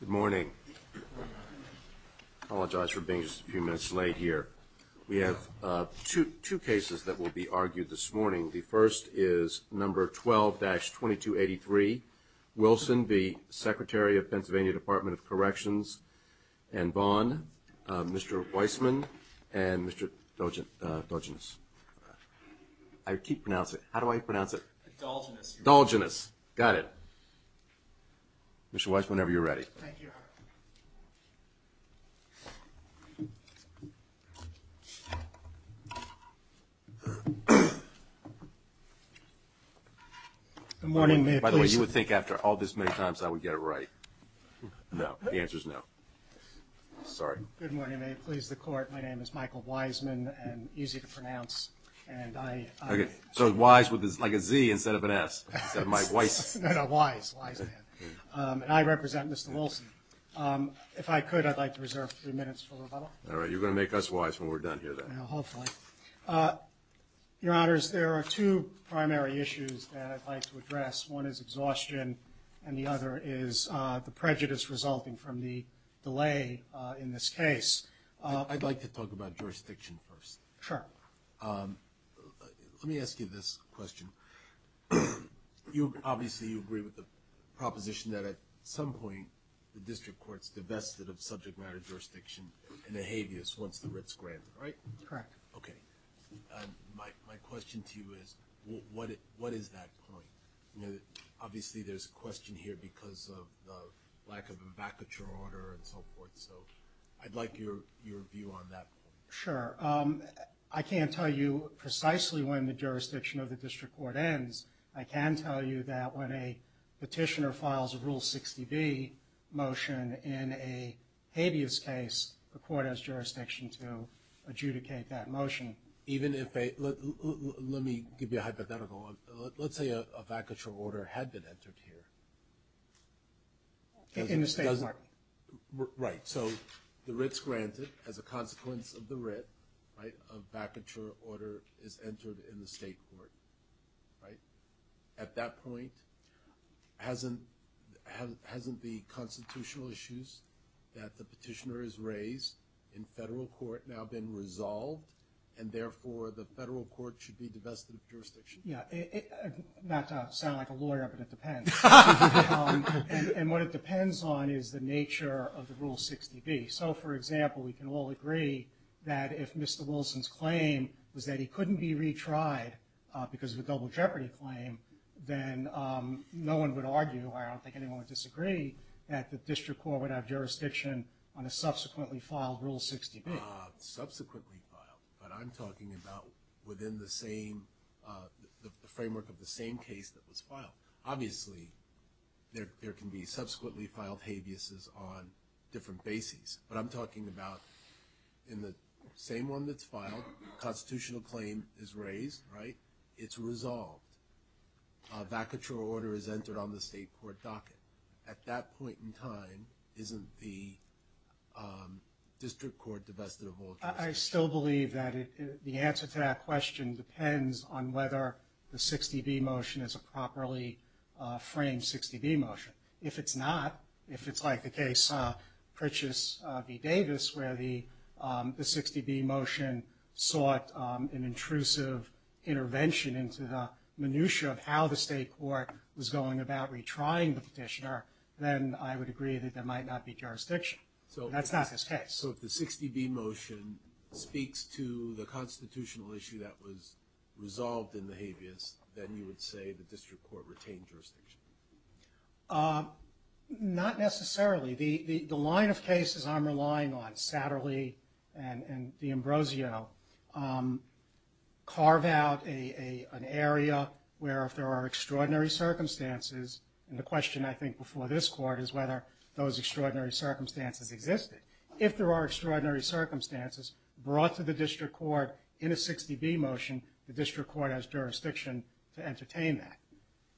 Good morning. I apologize for being just a few minutes late here. We have two cases that will be argued this morning. The first is No. 12-2283. Wilson, the Secretary of Pennsylvania Dept. of Corrections and Bond, Mr. Weissman, and Mr. Dolginus. I keep pronouncing it. How do I pronounce it? Dolginus. Dolginus. Got it. Mr. Weissman, whenever you're ready. Thank you, Your Honor. Good morning. May it please the Court. By the way, you would think after all this many times I would get it right. No. The answer is no. Sorry. Good morning. May it please the Court. My name is Dolginus, instead of an S. Instead of my Weiss. No, no. Weiss. Weissman. And I represent Mr. Wilson. If I could, I'd like to reserve three minutes for rebuttal. All right. You're going to make us wise when we're done here, then. Hopefully. Your Honors, there are two primary issues that I'd like to address. One is exhaustion, and the other is the prejudice resulting from the delay in this case. I'd like to talk about jurisdiction first. Let me ask you this question. Obviously, you agree with the proposition that at some point the district court's divested of subject matter jurisdiction in the habeas once the writ's granted, right? Correct. Okay. My question to you is, what is that point? Obviously, there's a question here because of the lack of a vacature order and so forth. I'd like your view on that. Sure. I can't tell you precisely when the jurisdiction of the district court ends. I can tell you that when a petitioner files a Rule 60B motion in a habeas case, the court has jurisdiction to adjudicate that motion. Let me give you a hypothetical. Let's say a vacature order had been entered here. In the state court. Right. The writ's granted. As a consequence of the writ, a vacature order is entered in the state court. At that point, hasn't the constitutional issues that the petitioner has raised in federal court now been resolved, and therefore the federal court should be divested of jurisdiction? Yeah. Not to sound like a lawyer, but it depends. What it depends on is the nature of the Rule 60B. For example, we can all agree that if Mr. Wilson's claim was that he couldn't be retried because of a double jeopardy claim, then no one would argue, I don't think anyone would disagree, that the district court would have jurisdiction on a subsequently filed Rule 60B. Subsequently filed. But I'm talking about within the same framework of the same case that was filed. Obviously, there can be subsequently filed habeases on different bases. But I'm talking about in the same one that's filed, constitutional claim is raised. Right. It's resolved. A vacature order is entered on the state court docket. At that point in time, isn't the district court divested of all jurisdiction? I still believe that the answer to that question depends on whether the 60B motion is a properly framed 60B motion. If it's not, if it's like the case Pritchett v. Davis where the 60B motion sought an intrusive intervention into the minutia of how the state court was going about retrying the petitioner, then I would agree that there might not be jurisdiction. That's not this case. So if the 60B motion speaks to the constitutional issue that was resolved in the habeas, then you would say the district court retained jurisdiction? Not necessarily. The line of cases I'm relying on, Satterley and D'Ambrosio, carve out an area where if there are extraordinary circumstances, and the question I think before this court is whether those extraordinary circumstances existed. If there are extraordinary circumstances brought to the district court in a 60B motion, the district court has jurisdiction to entertain that.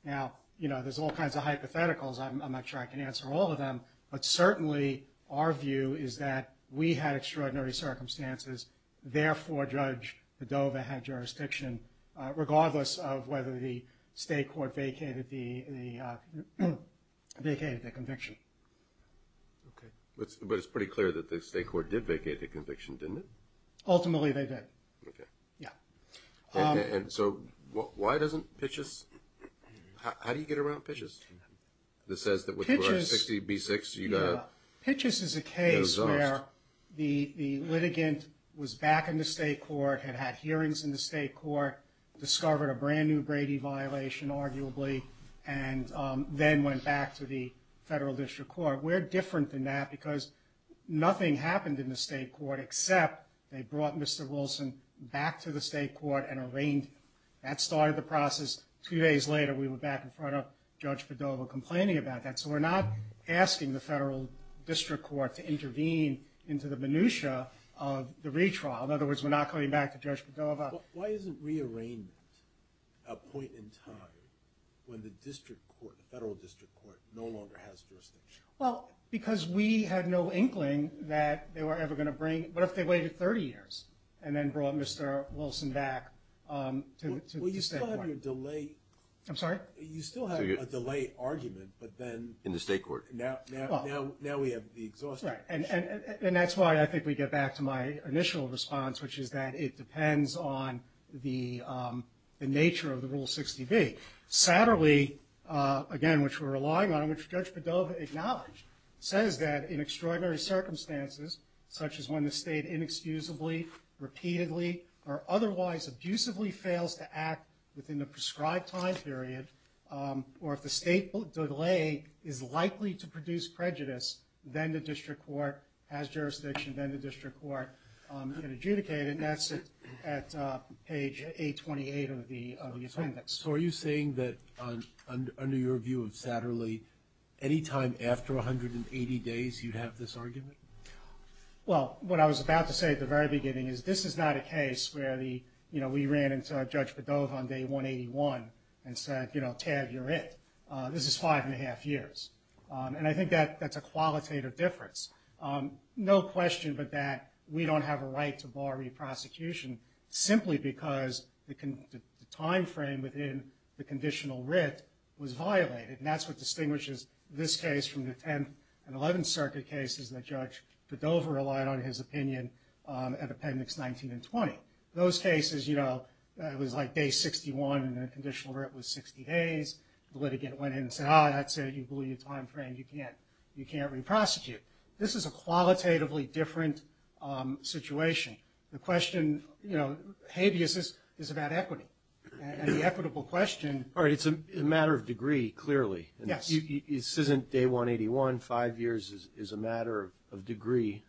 Now, there's all kinds of hypotheticals. I'm not sure I can answer all of them, but certainly our view is that we had extraordinary circumstances. Therefore, Judge Dover had jurisdiction regardless of whether the state court vacated the conviction. But it's pretty clear that the state court did vacate the conviction, didn't it? Ultimately, they did. And so why doesn't Pitchess, how do you get around Pitchess? Pitchess is a case where the litigant was back in the state court, had had hearings in the state court, discovered a brand new Brady violation arguably, and then went back to the federal district court. We're different than that because nothing happened in the state court except they brought Mr. Wilson back to the state court and arraigned him. That started the process. Two days later, we were back in front of Judge Padova complaining about that. So we're not asking the federal district court to intervene into the minutia of the retrial. In other words, we're not coming back to Judge Padova. Why isn't rearrangement a point in time when the district court, the federal district court, no longer has jurisdiction? Well, because we had no inkling that they were ever going to bring... What if they waited 30 years and then brought Mr. Wilson back to the state court? Well, you still have your delay... I'm sorry? You still have a delay argument, but then... In the state court. Now we have the exhaustion. And that's why I think we get back to my initial response, which is that it depends on the nature of the Rule 60B. Satterley, again, which we're relying on, which Judge Padova acknowledged, says that in extraordinary circumstances, such as when the state inexcusably, repeatedly, or otherwise abusively fails to act within the prescribed time period, or if the state delay is likely to produce prejudice, then the district court has a 28 of the appendix. So are you saying that under your view of Satterley, any time after 180 days you'd have this argument? Well, what I was about to say at the very beginning is this is not a case where we ran into Judge Padova on day 181 and said, you know, tab, you're it. This is five and a half years. And I think that's a qualitative difference. No question but that we don't have a right to bar re-prosecution simply because the time frame within the conditional writ was violated. And that's what distinguishes this case from the 10th and 11th Circuit cases that Judge Padova relied on his opinion at Appendix 19 and 20. Those cases, you know, it was like day 61 and the conditional writ was 60 days. The litigant went in and said, ah, that's it, you blew your time frame, you can't re-prosecute. This is a qualitatively different situation. The question, you know, habeas is about equity. And the equitable question... All right, it's a matter of degree, clearly. Yes. This isn't day 181, five years is a matter of degree,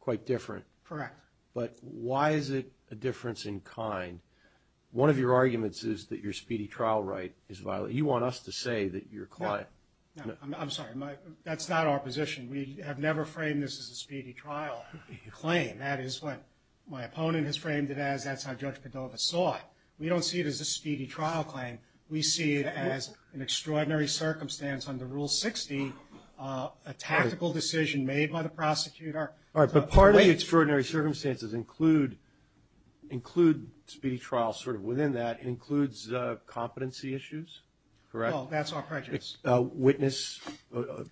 quite different. Correct. But why is it a difference in kind? One of your arguments is that your speedy trial right is violated. You want us to say that your client... I'm sorry, that's not our position. We have never framed this as a speedy trial claim. That is what my opponent has framed it as. That's how Judge Padova saw it. We don't see it as a speedy trial claim. We see it as an extraordinary circumstance under Rule 60, a tactical decision made by the prosecutor. All right, but part of the extraordinary circumstances include speedy trial, sort of within that, includes competency issues, correct? Well, that's our prejudice. A witness,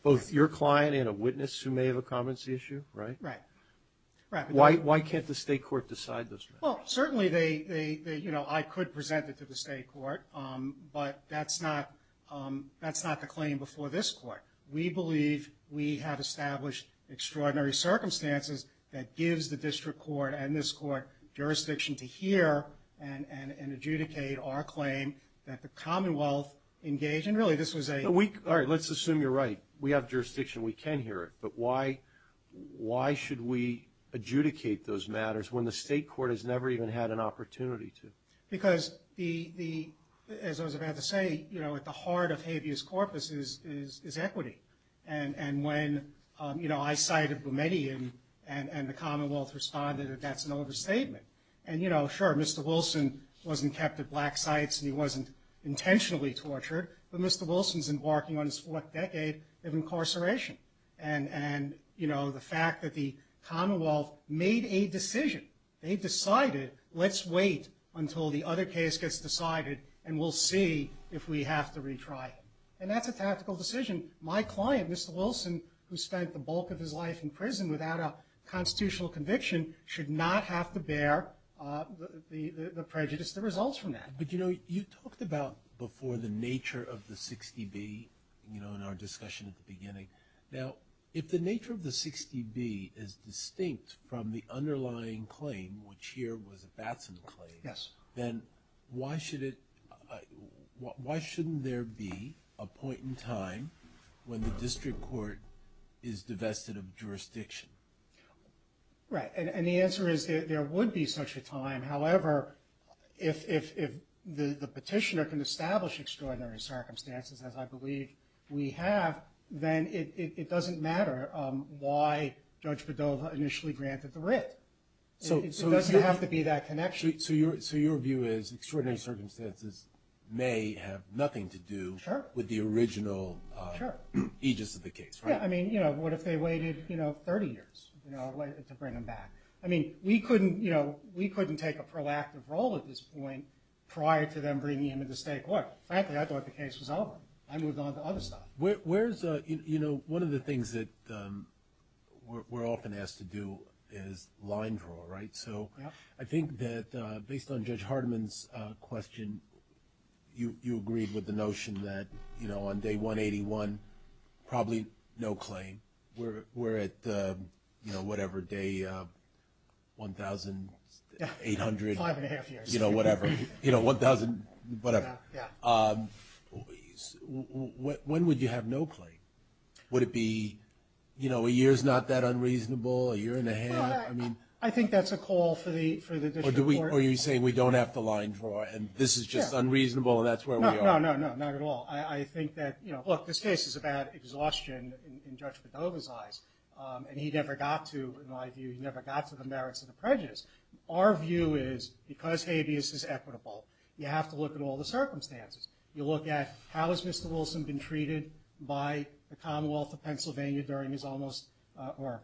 both your client and a witness who may have a competency issue, right? Right. Why can't the state court decide this? Well, certainly they, you know, I could present it to the state court, but that's not the claim before this court. We believe we have established extraordinary circumstances that gives the district court and this court jurisdiction to hear and adjudicate our claim that the Commonwealth engaged in. Really, this was a... All right, let's assume you're right. We have jurisdiction. We can hear it. But why should we adjudicate those matters when the state court has never even had an opportunity to? Because, as I was about to say, you know, at the heart of habeas corpus is equity. And when, you know, I cited Boumediene and the Commonwealth responded, that's an overstatement. And, you know, sure, Mr. Wilson wasn't kept at black sites and he wasn't intentionally tortured, but Mr. Wilson's embarking on his fourth decade of incarceration. And, you know, the fact that the Commonwealth made a decision, they decided, let's wait until the other case gets decided and we'll see if we have to retry him. And that's a tactical decision. My client, Mr. Wilson, who spent the bulk of his life in prison without a constitutional conviction, should not have to bear the prejudice that results from that. But, you know, you talked about before the nature of the 60B, you know, in our discussion at the beginning. Now, if the nature of the 60B is distinct from the underlying claim, which here was a Batson claim, then why should it, why shouldn't there be a point in time when the district court is divested of jurisdiction? Right. And the answer is there would be such a time. However, if the petitioner can establish extraordinary circumstances, as I believe we have, then it doesn't matter why Judge Padova initially granted the writ. It doesn't have to be that connection. So your view is extraordinary circumstances may have nothing to do with the original aegis of the case, right? Yeah, I mean, you know, what if they waited, you know, 30 years to bring him back? I mean, we couldn't, you know, we couldn't take a proactive role at this point prior to them bringing him into the state court. Frankly, I thought the case was over. I moved on to other stuff. Where's, you know, one of the things that we're often asked to do is line draw, right? So I think that based on Judge Hardiman's question, you agreed with the notion that, you know, on day 181, probably no claim. We're at, you know, whatever, day 1,800. Five and a half years. You know, whatever, you know, 1,000, whatever. When would you have no claim? Would it be, you know, a year's not that unreasonable, a year and a half? I think that's a call for the district court. Or are you saying we don't have to line draw and this is just unreasonable and that's where we are? No, no, no, not at all. I think that, you know, look, this case is about exhaustion in Judge Padova's eyes, and he never got to, in my view, he never got to the merits of the prejudice. Our view is, because habeas is equitable, you have to look at all the circumstances. You look at, how has Mr. Wilson been treated by the Commonwealth of Pennsylvania during his almost, or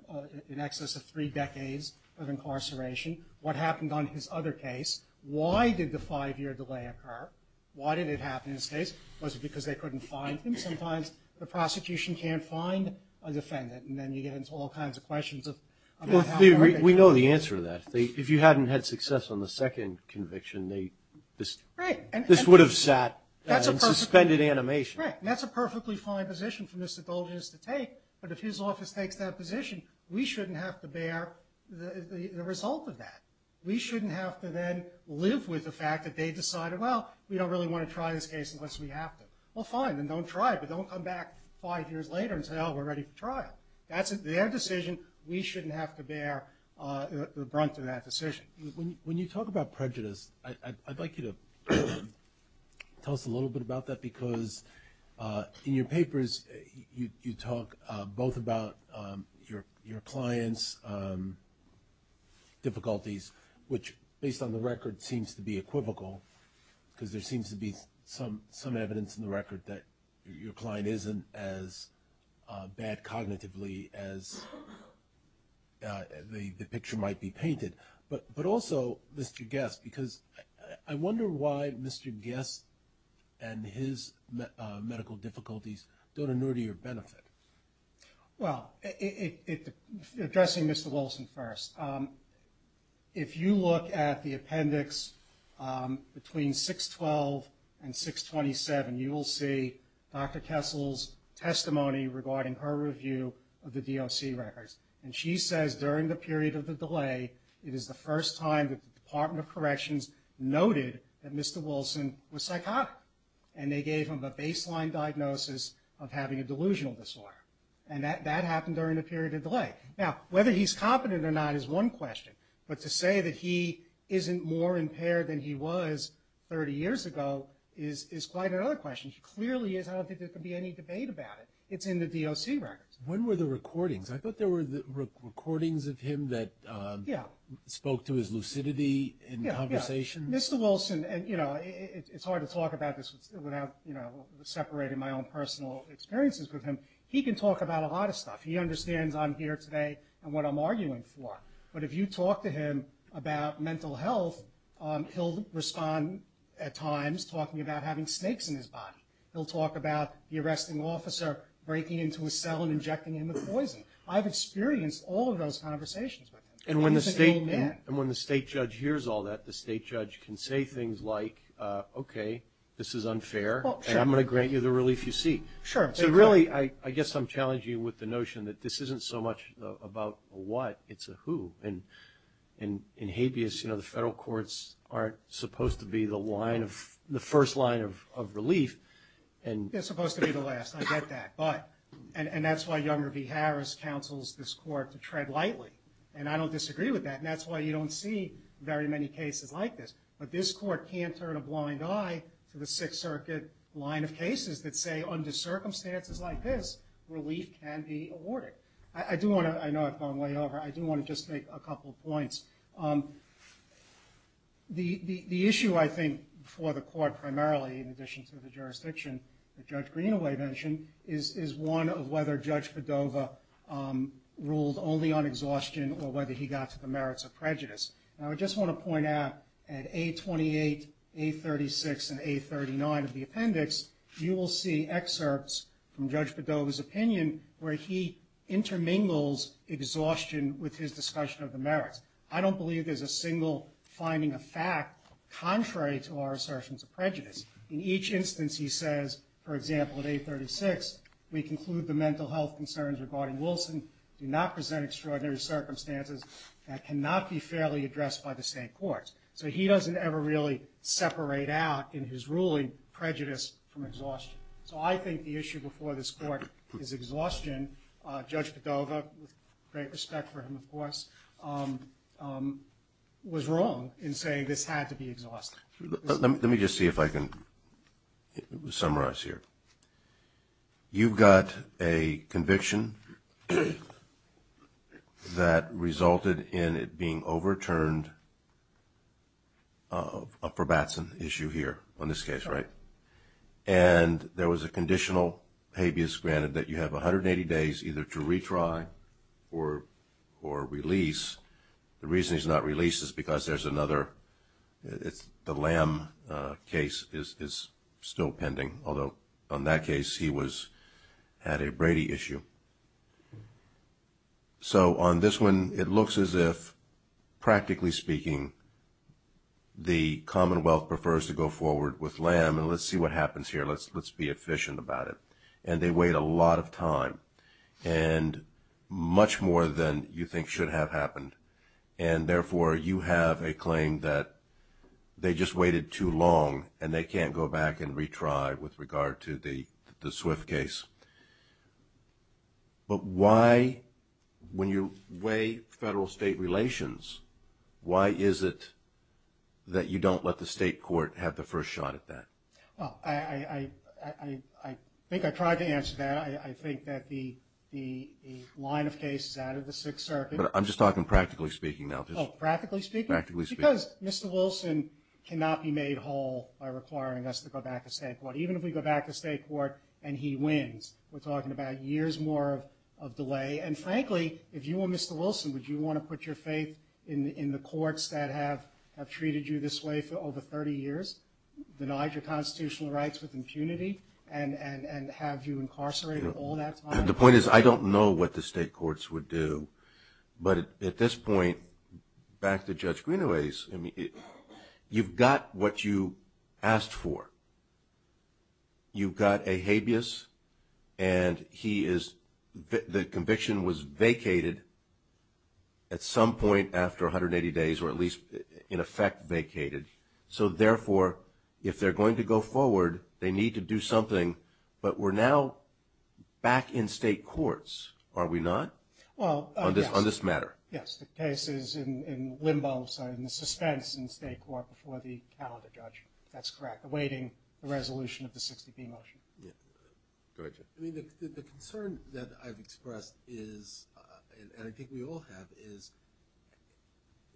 in excess of three decades of incarceration? What happened on his other case? Why did the five-year delay occur? Why did it happen in this case? Was it because they couldn't find him? Sometimes the prosecution can't find a defendant, and then you get into all kinds of questions of how that happened. We know the answer to that. If you hadn't had success on the second conviction, this would have sat in suspended animation. Right, and that's a perfectly fine position for Mr. Dolgen to take, but if his office takes that position, we shouldn't have to bear the result of that. We shouldn't have to then live with the fact that they decided, well, we don't really want to try this case unless we have to. Well, fine, then don't try it, but don't come back five years later and say, well, we're ready for trial. That's their decision. We shouldn't have to bear the brunt of that decision. When you talk about prejudice, I'd like you to tell us a little bit about that, because in your papers you talk both about your client's difficulties, which based on the record seems to be equivocal, because there seems to be some evidence in the record that your client isn't as bad cognitively as the picture might be painted. But also, Mr. Guest, because I wonder why Mr. Guest and his medical difficulties don't inure to your benefit. Well, addressing Mr. Wilson first, if you look at the appendix between 612 and 627, you will see Dr. Kessel's testimony regarding her review of the DOC records, and she says during the period of the delay, it is the first time that the Department of Corrections noted that Mr. Wilson was psychotic, and they gave him a baseline diagnosis of having a delusional disorder, and that happened during the period of delay. Now, whether he's competent or not is one question, but to say that he isn't more impaired than he was 30 years ago is quite another question. He clearly is. I don't think there could be any debate about it. It's in the DOC records. When were the recordings? I thought there were recordings of him that spoke to his lucidity in conversation. Yeah, yeah. Mr. Wilson, and it's hard to talk about this without separating my own personal experiences with him. He can talk about a lot of stuff. He understands I'm here today and what I'm arguing for, but if you talk to him about mental health, he'll respond at times talking about having snakes in his body. He'll talk about the arresting officer breaking into his cell and injecting him with poison. I've experienced all of those conversations with him, and he's an old man. And when the state judge hears all that, the state judge can say things like, okay, this is unfair, and I'm going to grant you the relief you seek. Sure. So really, I guess I'm challenging you with the notion that this isn't so much about a what, it's a who. In habeas, the federal courts aren't supposed to be the first line of relief. They're supposed to be the last. I get that. And that's why Younger v. Harris counsels this court to tread lightly, and I don't disagree with that, and that's why you don't see very many cases like this. that say under circumstances like this, relief can be awarded. I do want to – I know I've gone way over. I do want to just make a couple of points. The issue, I think, for the court primarily, in addition to the jurisdiction that Judge Greenaway mentioned, is one of whether Judge Padova ruled only on exhaustion or whether he got to the merits of prejudice. Now, I just want to point out at A28, A36, and A39 of the appendix, you will see excerpts from Judge Padova's opinion where he intermingles exhaustion with his discussion of the merits. I don't believe there's a single finding of fact contrary to our assertions of prejudice. In each instance, he says, for example, at A36, we conclude the mental health concerns regarding Wilson do not present extraordinary circumstances that cannot be fairly addressed by the state courts. So he doesn't ever really separate out in his ruling prejudice from exhaustion. So I think the issue before this court is exhaustion. Judge Padova, with great respect for him, of course, was wrong in saying this had to be exhaustion. Let me just see if I can summarize here. You've got a conviction that resulted in it being overturned, a forbatsen issue here on this case, right? And there was a conditional habeas granted that you have 180 days either to retry or release. The reason he's not released is because there's another, the Lamb case is still pending, although on that case he had a Brady issue. So on this one, it looks as if, practically speaking, the Commonwealth prefers to go forward with Lamb. And let's see what happens here. Let's be efficient about it. And they wait a lot of time, and much more than you think should have happened. And therefore you have a claim that they just waited too long and they can't go back and retry with regard to the Swift case. But why, when you weigh federal-state relations, why is it that you don't let the state court have the first shot at that? Well, I think I tried to answer that. I think that the line of case is out of the Sixth Circuit. But I'm just talking practically speaking now. Oh, practically speaking? Practically speaking. Because Mr. Wilson cannot be made whole by requiring us to go back to state court. And he wins. We're talking about years more of delay. And frankly, if you were Mr. Wilson, would you want to put your faith in the courts that have treated you this way for over 30 years, denied your constitutional rights with impunity, and have you incarcerated all that time? The point is I don't know what the state courts would do. But at this point, back to Judge Greenaway's, you've got what you asked for. You've got a habeas, and the conviction was vacated at some point after 180 days, or at least in effect vacated. So, therefore, if they're going to go forward, they need to do something. But we're now back in state courts, are we not? Well, yes. On this matter. Yes, the case is in limbo, sorry, in the suspense in state court before the calendar judgment. That's correct, awaiting the resolution of the 60B motion. Yeah. Go ahead, Jeff. I mean, the concern that I've expressed is, and I think we all have, is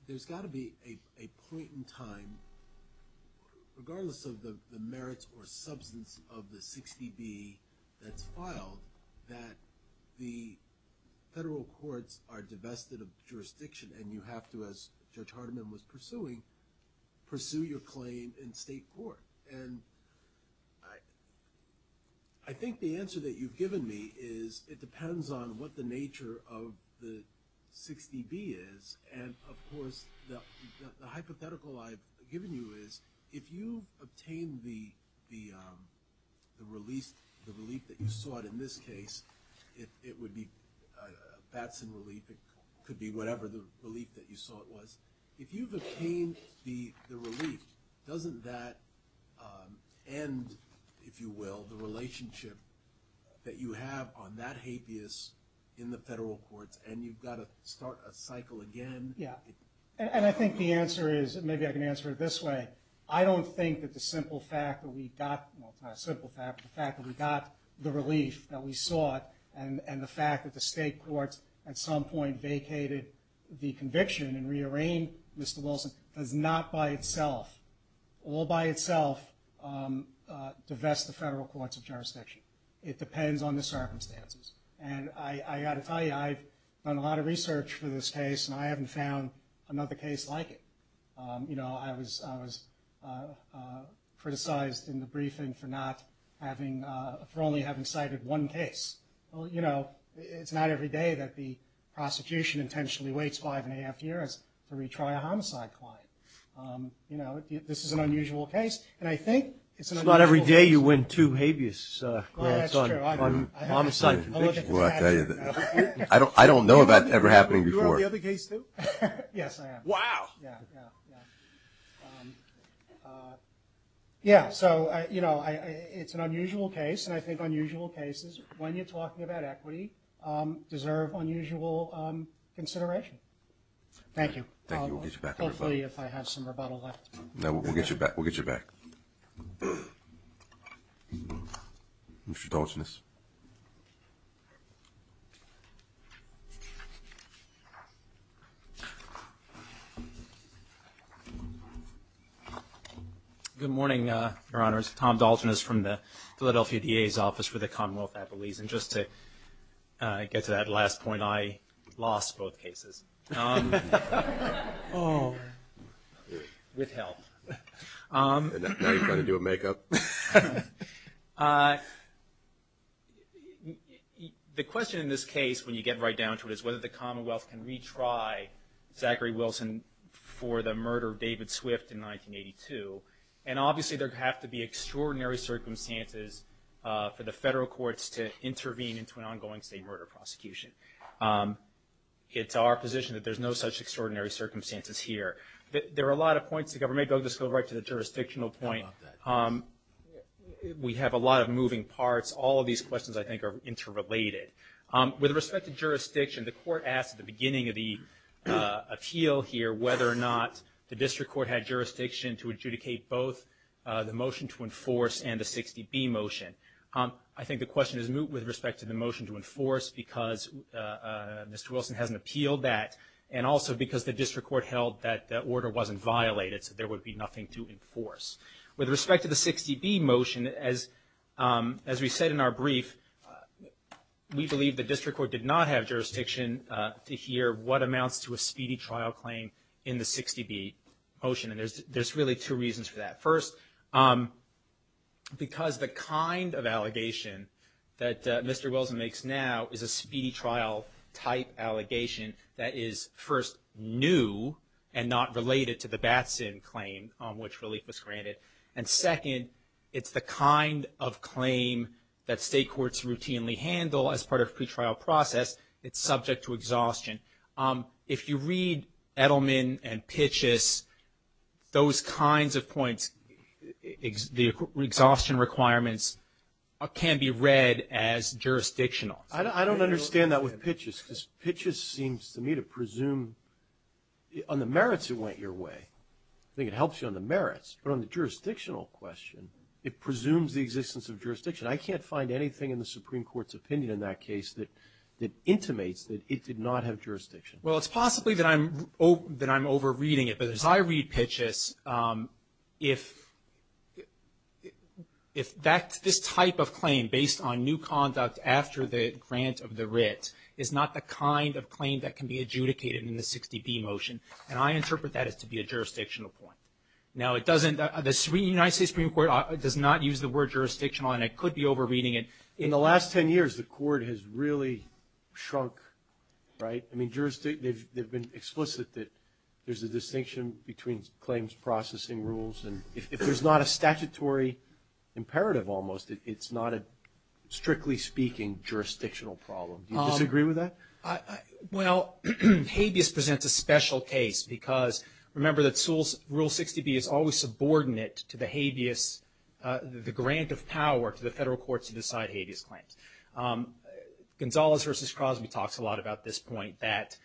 there's got to be a point in time, regardless of the merits or substance of the 60B that's filed, that the federal courts are divested of jurisdiction, and you have to, as Judge Hardiman was pursuing, pursue your claim in state court. And I think the answer that you've given me is, it depends on what the nature of the 60B is, and, of course, the hypothetical I've given you is, if you obtain the relief that you sought in this case, it would be Batson relief, it could be whatever the relief that you sought was. If you've obtained the relief, doesn't that end, if you will, the relationship that you have on that hapeus in the federal courts, and you've got to start a cycle again? Yeah. And I think the answer is, and maybe I can answer it this way, I don't think that the simple fact that we got, well, it's not a simple fact, but the fact that we got the relief that we sought, and the fact that the state courts at some point vacated the conviction and rearranged Mr. Wilson does not by itself, all by itself, divest the federal courts of jurisdiction. It depends on the circumstances. And I've got to tell you, I've done a lot of research for this case, and I haven't found another case like it. You know, I was criticized in the briefing for not having, for only having cited one case. Well, you know, it's not every day that the prosecution intentionally waits five and a half years to retry a homicide client. You know, this is an unusual case. And I think it's an unusual case. It's not every day you win two habeas courts on homicide convictions. I don't know if that's ever happened before. You have the other case, too? Yes, I have. Wow. Yeah, yeah, yeah. Yeah, so, you know, it's an unusual case, and I think unusual cases, when you're talking about equity, deserve unusual consideration. Thank you. Thank you. We'll get you back, everybody. Hopefully, if I have some rebuttal left. No, we'll get you back. We'll get you back. Mr. Dolchanis. Good morning, Your Honors. Tom Dolchanis from the Philadelphia DA's Office for the Commonwealth Appellees. And just to get to that last point, I lost both cases. With help. Now you've got to do a makeup. The question in this case, when you get right down to it, is whether the Commonwealth can retry Zachary Wilson for the murder of David Swift in 1982. And obviously there have to be extraordinary circumstances for the federal courts to intervene into an ongoing state murder prosecution. It's our position that there's no such extraordinary circumstances here. There are a lot of points to cover. Maybe I'll just go right to the jurisdictional point. We have a lot of moving parts. All of these questions, I think, are interrelated. With respect to jurisdiction, the court asked at the beginning of the appeal here whether or not the district court had jurisdiction to adjudicate both the motion to enforce and the 60B motion. I think the question is moot with respect to the motion to enforce, because Mr. Wilson hasn't appealed that, and also because the district court held that the order wasn't violated, so there would be nothing to enforce. With respect to the 60B motion, as we said in our brief, we believe the district court did not have jurisdiction to hear what amounts to a violation in the 60B motion. And there's really two reasons for that. First, because the kind of allegation that Mr. Wilson makes now is a speedy trial type allegation that is, first, new and not related to the Batson claim on which relief was granted. And second, it's the kind of claim that state courts routinely handle as part of pretrial process. It's subject to exhaustion. If you read Edelman and Pitchess, those kinds of points, the exhaustion requirements can be read as jurisdictional. I don't understand that with Pitchess, because Pitchess seems to me to presume on the merits it went your way. I think it helps you on the merits, but on the jurisdictional question, it presumes the existence of jurisdiction. I can't find anything in the Supreme Court's opinion in that case that intimates that it did not have jurisdiction. Well, it's possibly that I'm over-reading it. But as I read Pitchess, if this type of claim, based on new conduct after the grant of the writ, is not the kind of claim that can be adjudicated in the 60B motion, then I interpret that as to be a jurisdictional point. Now, the United States Supreme Court does not use the word jurisdictional, and I could be over-reading it. In the last 10 years, the Court has really shrunk, right? I mean, they've been explicit that there's a distinction between claims, processing rules. And if there's not a statutory imperative almost, it's not a, strictly speaking, jurisdictional problem. Do you disagree with that? Well, habeas presents a special case, because remember that Rule 60B is always subordinate to the habeas, the grant of power to the federal courts to decide habeas claims. Gonzales v. Crosby talks a lot about this point, that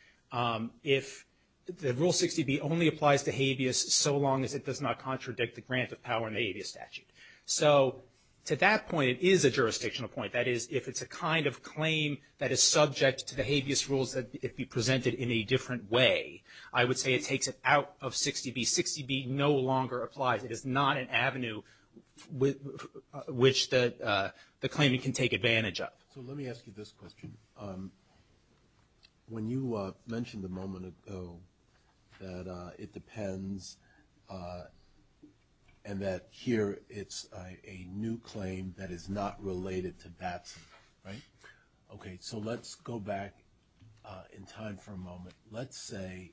if the Rule 60B only applies to habeas so long as it does not contradict the grant of power in the habeas statute. So to that point, it is a jurisdictional point. That is, if it's a kind of claim that is subject to the habeas rules, that it be presented in a different way. I would say it takes it out of 60B. 60B no longer applies. It is not an avenue which the claimant can take advantage of. So let me ask you this question. When you mentioned a moment ago that it depends and that here it's a new claim that is not related to Batson, right? Okay, so let's go back in time for a moment. Let's say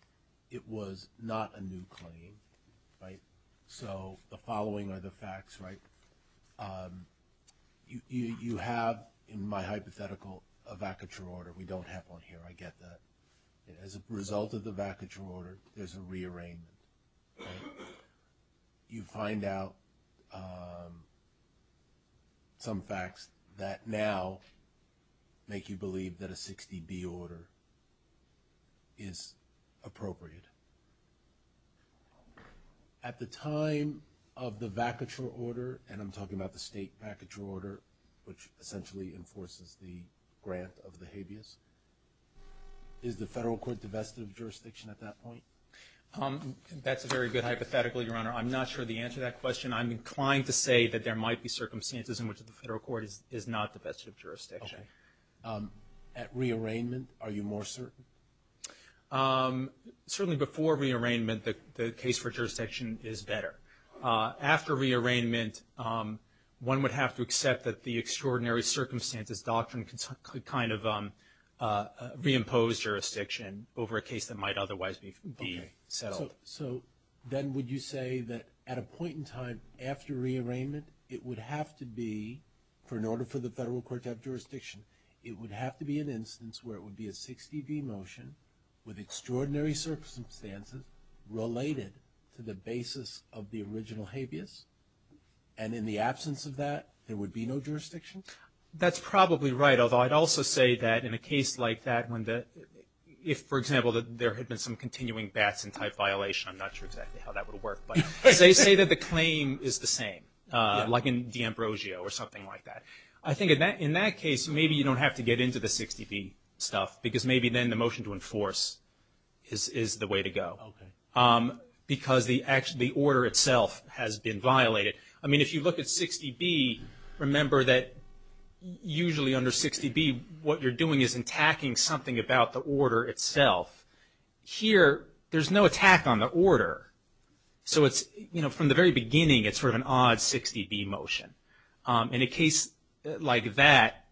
it was not a new claim, right? So the following are the facts, right? You have in my hypothetical a vacuature order. We don't have one here. I get that. As a result of the vacuature order, there's a rearrangement, right? You find out some facts that now make you believe that a 60B order is appropriate. At the time of the vacuature order, and I'm talking about the state vacuature order, which essentially enforces the grant of the habeas, is the federal court divested of jurisdiction at that point? That's a very good hypothetical, Your Honor. I'm not sure of the answer to that question. I'm inclined to say that there might be circumstances in which the federal court is not divested of jurisdiction. Okay. At rearrangement, are you more certain? Certainly before rearrangement, the case for jurisdiction is better. After rearrangement, one would have to accept that the extraordinary circumstances doctrine could kind of reimpose jurisdiction over a case that might otherwise be settled. Okay. So then would you say that at a point in time after rearrangement, it would have to be, for in order for the federal court to have jurisdiction, it would have to be an instance where it would be a 60B motion with extraordinary circumstances related to the basis of the original habeas, and in the absence of that, there would be no jurisdiction? That's probably right, although I'd also say that in a case like that, if, for example, there had been some continuing Batson-type violation, I'm not sure exactly how that would work, but they say that the claim is the same, like in D'Ambrosio or something like that. I think in that case, maybe you don't have to get into the 60B stuff, because maybe then the motion to enforce is the way to go. Okay. Because the order itself has been violated. I mean, if you look at 60B, remember that usually under 60B, what you're doing is attacking something about the order itself. Here, there's no attack on the order, so from the very beginning, it's sort of an odd 60B motion. In a case like that,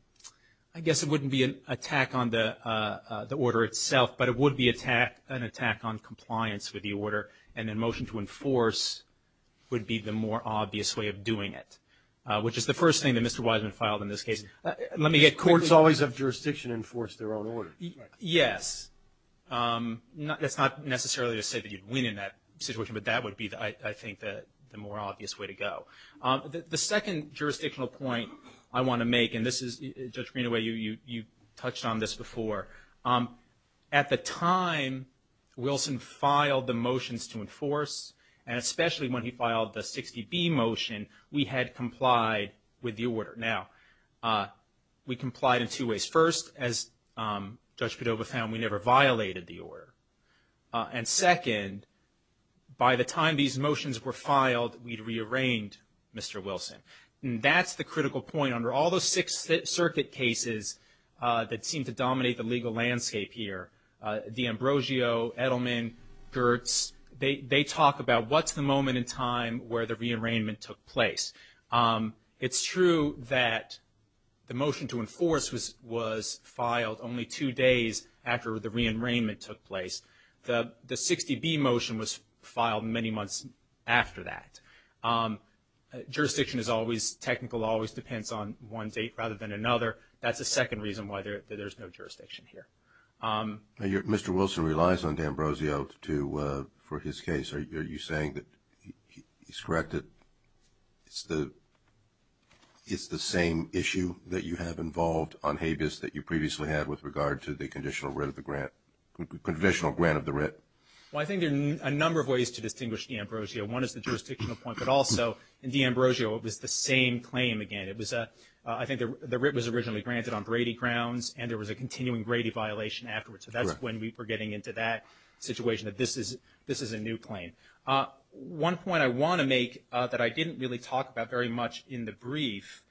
I guess it wouldn't be an attack on the order itself, but it would be an attack on compliance with the order, and then motion to enforce would be the more obvious way of doing it, which is the first thing that Mr. Wiseman filed in this case. Courts always have jurisdiction to enforce their own order. Yes. That's not necessarily to say that you'd win in that situation, but that would be, I think, the more obvious way to go. The second jurisdictional point I want to make, and this is, Judge Greenaway, you touched on this before. At the time Wilson filed the motions to enforce, and especially when he filed the 60B motion, we had complied with the order. Now, we complied in two ways. First, as Judge Cordova found, we never violated the order. And second, by the time these motions were filed, we'd re-arraigned Mr. Wilson. And that's the critical point. Under all the Sixth Circuit cases that seem to dominate the legal landscape here, D'Ambrosio, Edelman, Gertz, they talk about what's the moment in time where the re-arraignment took place. It's true that the motion to enforce was filed only two days after the re-arraignment took place. The 60B motion was filed many months after that. Jurisdiction is always technical, always depends on one date rather than another. That's the second reason why there's no jurisdiction here. Mr. Wilson relies on D'Ambrosio for his case. Are you saying that he's corrected? It's the same issue that you have involved on Habeas that you previously had with regard to the conditional grant of the writ. Well, I think there are a number of ways to distinguish D'Ambrosio. One is the jurisdictional point, but also, in D'Ambrosio, it was the same claim again. I think the writ was originally granted on Brady grounds, and there was a continuing Brady violation afterwards. So that's when we were getting into that situation, that this is a new claim. One point I want to make that I didn't really talk about very much in the brief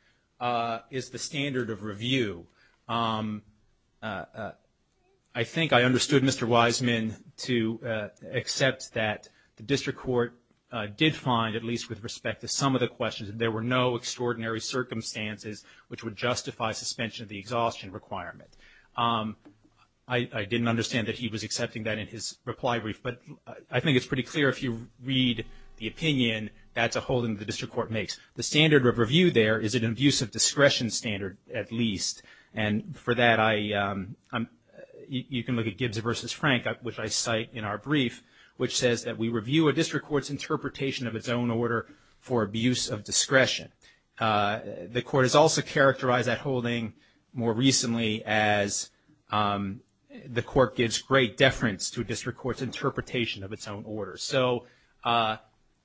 is the standard of review. I think I understood Mr. Wiseman to accept that the district court did find, at least with respect to some of the questions, that there were no extraordinary circumstances which would justify suspension of the exhaustion requirement. I didn't understand that he was accepting that in his reply brief, but I think it's pretty clear if you read the opinion, that's a holding the district court makes. The standard of review there is an abuse of discretion standard, at least. And for that, you can look at Gibbs v. Frank, which I cite in our brief, which says that we review a district court's interpretation of its own order for abuse of discretion. The court has also characterized that holding more recently as the court gives great deference to a district court's interpretation of its own order. So Mr.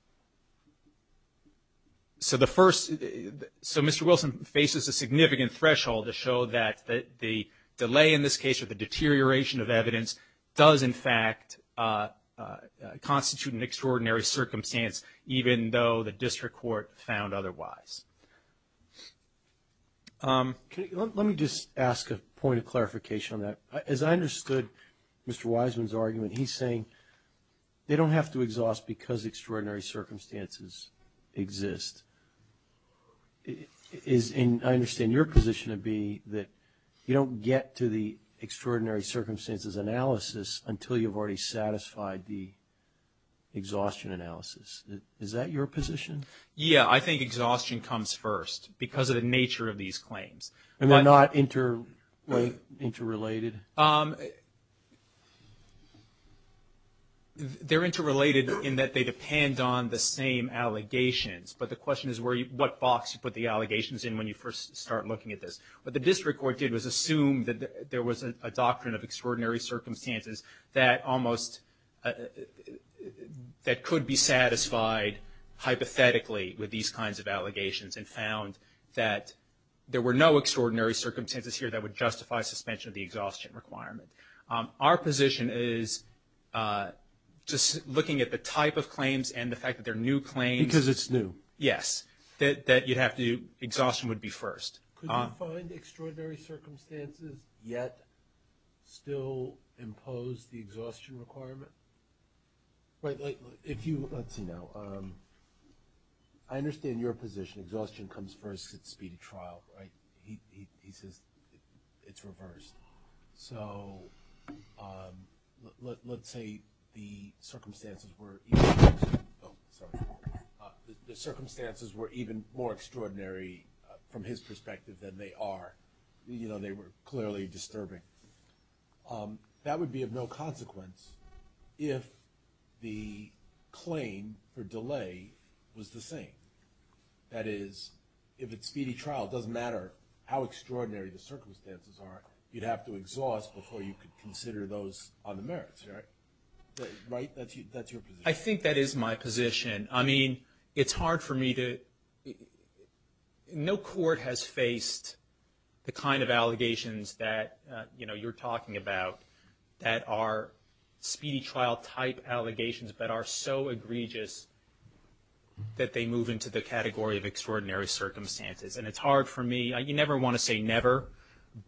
Wilson faces a significant threshold to show that the delay in this case or the deterioration of evidence does, in fact, constitute an extraordinary circumstance even though the district court found otherwise. Let me just ask a point of clarification on that. As I understood Mr. Wiseman's argument, he's saying they don't have to exhaust because extraordinary circumstances exist. I understand your position would be that you don't get to the extraordinary circumstances analysis until you've already satisfied the exhaustion analysis. Is that your position? Yeah, I think exhaustion comes first because of the nature of these claims. And they're not interrelated? They're interrelated in that they depend on the same allegations. But the question is what box you put the allegations in when you first start looking at this. What the district court did was assume that there was a doctrine of extraordinary circumstances that could be satisfied hypothetically with these kinds of allegations and found that there were no extraordinary circumstances here that would justify suspension of the exhaustion requirement. Our position is just looking at the type of claims and the fact that they're new claims. Because it's new. Yes, that exhaustion would be first. Could you find extraordinary circumstances yet still impose the exhaustion requirement? Let's see now. I understand your position. Exhaustion comes first because it's speedy trial. He says it's reversed. So let's say the circumstances were even more extraordinary from his perspective than they are. They were clearly disturbing. That would be of no consequence if the claim for delay was the same. That is, if it's speedy trial, it doesn't matter how extraordinary the circumstances are. You'd have to exhaust before you could consider those on the merits. Right? I think that is my position. I mean, it's hard for me to, no court has faced the kind of allegations that, you know, you're talking about that are speedy trial type allegations that are so egregious that they move into the category of extraordinary circumstances. And it's hard for me, you never want to say never,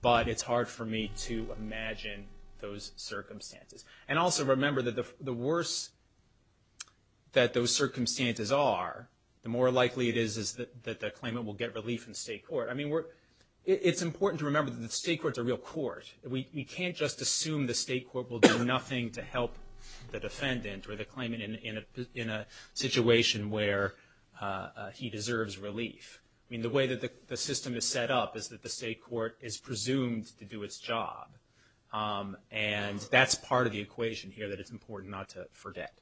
but it's hard for me to imagine those circumstances. And also remember that the worse that those circumstances are, the more likely it is that the claimant will get relief in state court. I mean, it's important to remember that the state court is a real court. We can't just assume the state court will do nothing to help the defendant or the claimant in a situation where he deserves relief. I mean, the way that the system is set up is that the state court is presumed to do its job. And that's part of the equation here that it's important not to forget.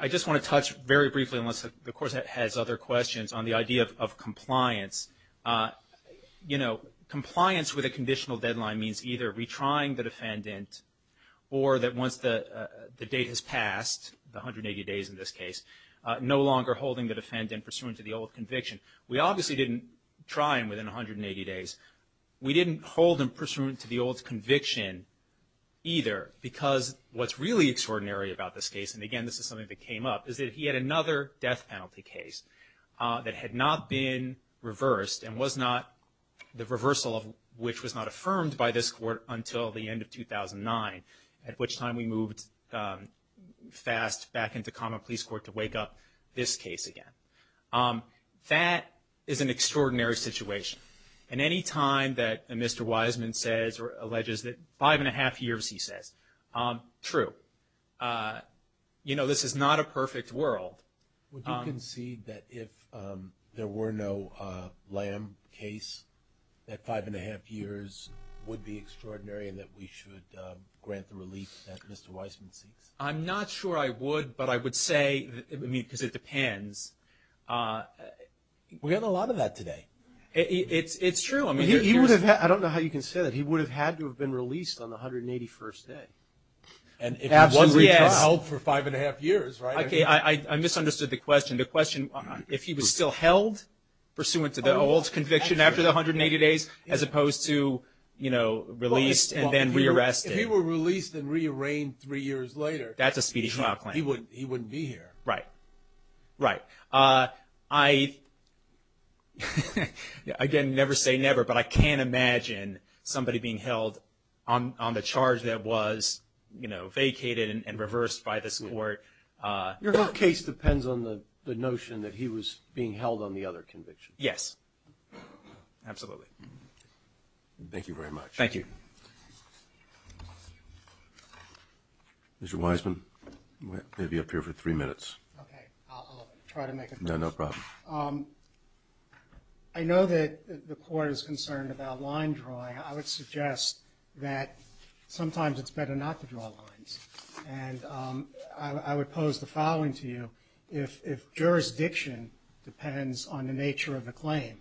I just want to touch very briefly, unless the court has other questions, on the idea of compliance. You know, compliance with a conditional deadline means either retrying the defendant or that once the date has passed, the 180 days in this case, no longer holding the defendant pursuant to the old conviction. We obviously didn't try him within 180 days. We didn't hold him pursuant to the old conviction either, because what's really extraordinary about this case, and again this is something that came up, is that he had another death penalty case that had not been reversed and was not the reversal of which was not affirmed by this court until the end of 2009, at which time we moved fast back into common police court to wake up this case again. That is an extraordinary situation. And any time that Mr. Wiseman says or alleges that five and a half years, he says, true. You know, this is not a perfect world. Would you concede that if there were no Lamb case, that five and a half years would be extraordinary and that we should grant the relief that Mr. Wiseman seeks? I'm not sure I would, but I would say, I mean, because it depends. We have a lot of that today. It's true. I don't know how you can say that. He would have had to have been released on the 181st day. Absolutely. He was held for five and a half years, right? I misunderstood the question. The question, if he was still held pursuant to the old conviction after the 180 days as opposed to, you know, released and then rearrested. If he were released and rearrested three years later, he wouldn't be here. Right. Right. I, again, never say never, but I can't imagine somebody being held on the charge that was, you know, vacated and reversed by this court. Your whole case depends on the notion that he was being held on the other conviction. Yes. Absolutely. Thank you very much. Thank you. Mr. Wiseman, you may be up here for three minutes. Okay. I'll try to make a point. No, no problem. I know that the court is concerned about line drawing. I would suggest that sometimes it's better not to draw lines, and I would pose the following to you. If jurisdiction depends on the nature of the claim,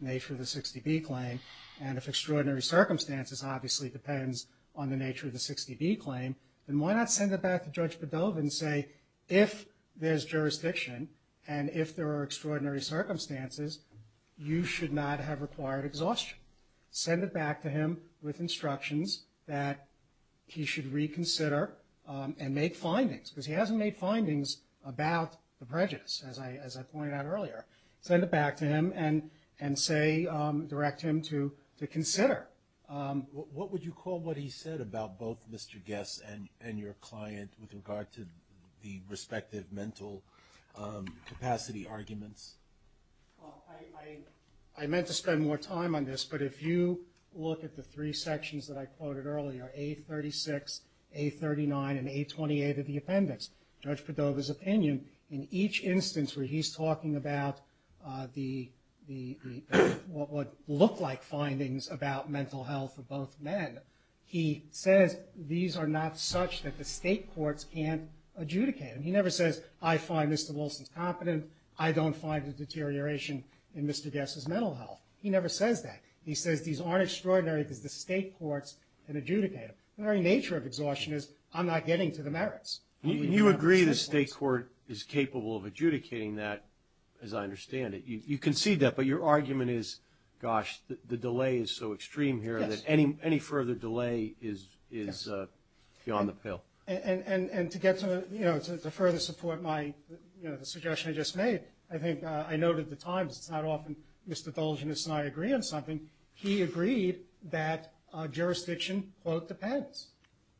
nature of the 60B claim, and if extraordinary circumstances obviously depends on the nature of the 60B claim, then why not send it back to Judge Bedovin and say, if there's jurisdiction and if there are extraordinary circumstances, you should not have required exhaustion. Send it back to him with instructions that he should reconsider and make findings, because he hasn't made findings about the prejudice, as I pointed out earlier. Send it back to him and say, direct him to consider. What would you call what he said about both Mr. Gess and your client with regard to the respective mental capacity arguments? Well, I meant to spend more time on this, but if you look at the three sections that I quoted earlier, A36, A39, and A28 of the appendix, Judge Bedovin's opinion, in each instance where he's talking about the what would look like findings about mental health of both men, he says these are not such that the state courts can't adjudicate them. He never says, I find Mr. Wilson's competent. I don't find the deterioration in Mr. Gess's mental health. He never says that. He says these aren't extraordinary because the state courts can adjudicate them. The very nature of exhaustion is I'm not getting to the merits. You agree the state court is capable of adjudicating that, as I understand it. You concede that, but your argument is, gosh, the delay is so extreme here that any further delay is beyond the pale. And to further support the suggestion I just made, I think I noted at the time, it's not often Mr. Dulgeness and I agree on something. He agreed that jurisdiction, quote, depends.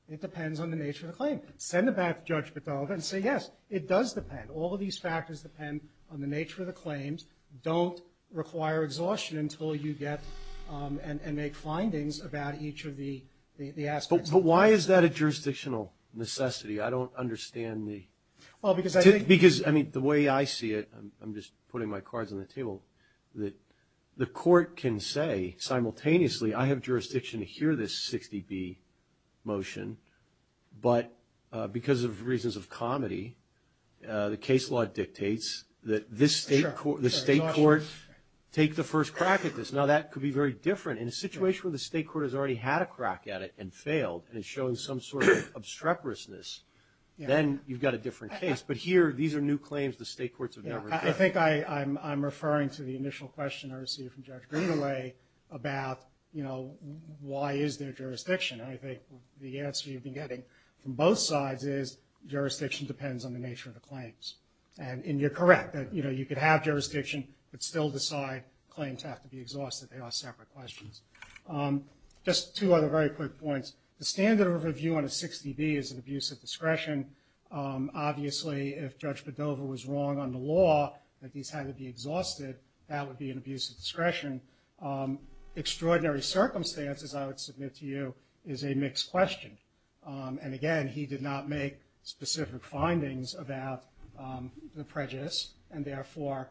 It depends on the nature of the claim. Send it back to Judge Bedova and say, yes, it does depend. All of these factors depend on the nature of the claims. Don't require exhaustion until you get and make findings about each of the aspects. But why is that a jurisdictional necessity? I don't understand the. Well, because I think. Because, I mean, the way I see it, I'm just putting my cards on the table, that the court can say simultaneously I have jurisdiction to hear this 60B motion, but because of reasons of comedy, the case law dictates that this state court take the first crack at this. Now, that could be very different. In a situation where the state court has already had a crack at it and failed and is showing some sort of obstreperousness, then you've got a different case. But here, these are new claims the state courts have never dealt with. I think I'm referring to the initial question I received from Judge Grimgold about, you know, why is there jurisdiction? And I think the answer you've been getting from both sides is jurisdiction depends on the nature of the claims. And you're correct that, you know, you could have jurisdiction, but still decide claims have to be exhausted. They are separate questions. Just two other very quick points. The standard overview on a 60B is an abuse of discretion. Obviously, if Judge Bedover was wrong on the law that these had to be exhausted, that would be an abuse of discretion. Extraordinary circumstances, I would submit to you, is a mixed question. And, again, he did not make specific findings about the prejudice, and therefore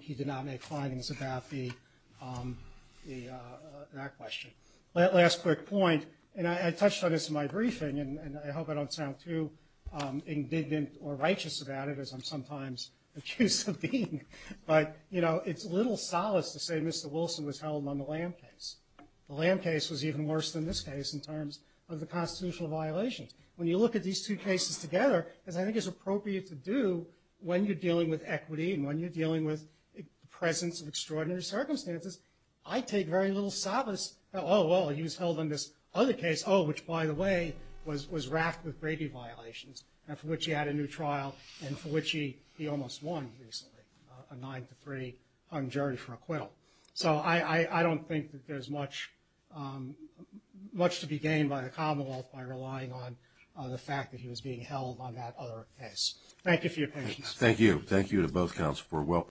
he did not make findings about that question. Last quick point, and I touched on this in my briefing, and I hope I don't sound too indignant or righteous about it, as I'm sometimes accused of being. But, you know, it's little solace to say Mr. Wilson was held on the Lamb case. The Lamb case was even worse than this case in terms of the constitutional violations. When you look at these two cases together, as I think it's appropriate to do when you're dealing with equity and when you're dealing with the presence of extraordinary circumstances, I take very little solace that, oh, well, he was held on this other case, oh, which, by the way, was wrapped with Brady violations, and for which he had a new trial, and for which he almost won recently, a nine-to-three on jury for acquittal. So I don't think that there's much to be gained by the Commonwealth by relying on the fact that he was being held on that other case. Thank you for your patience. Thank you to both counsel for welcoming me.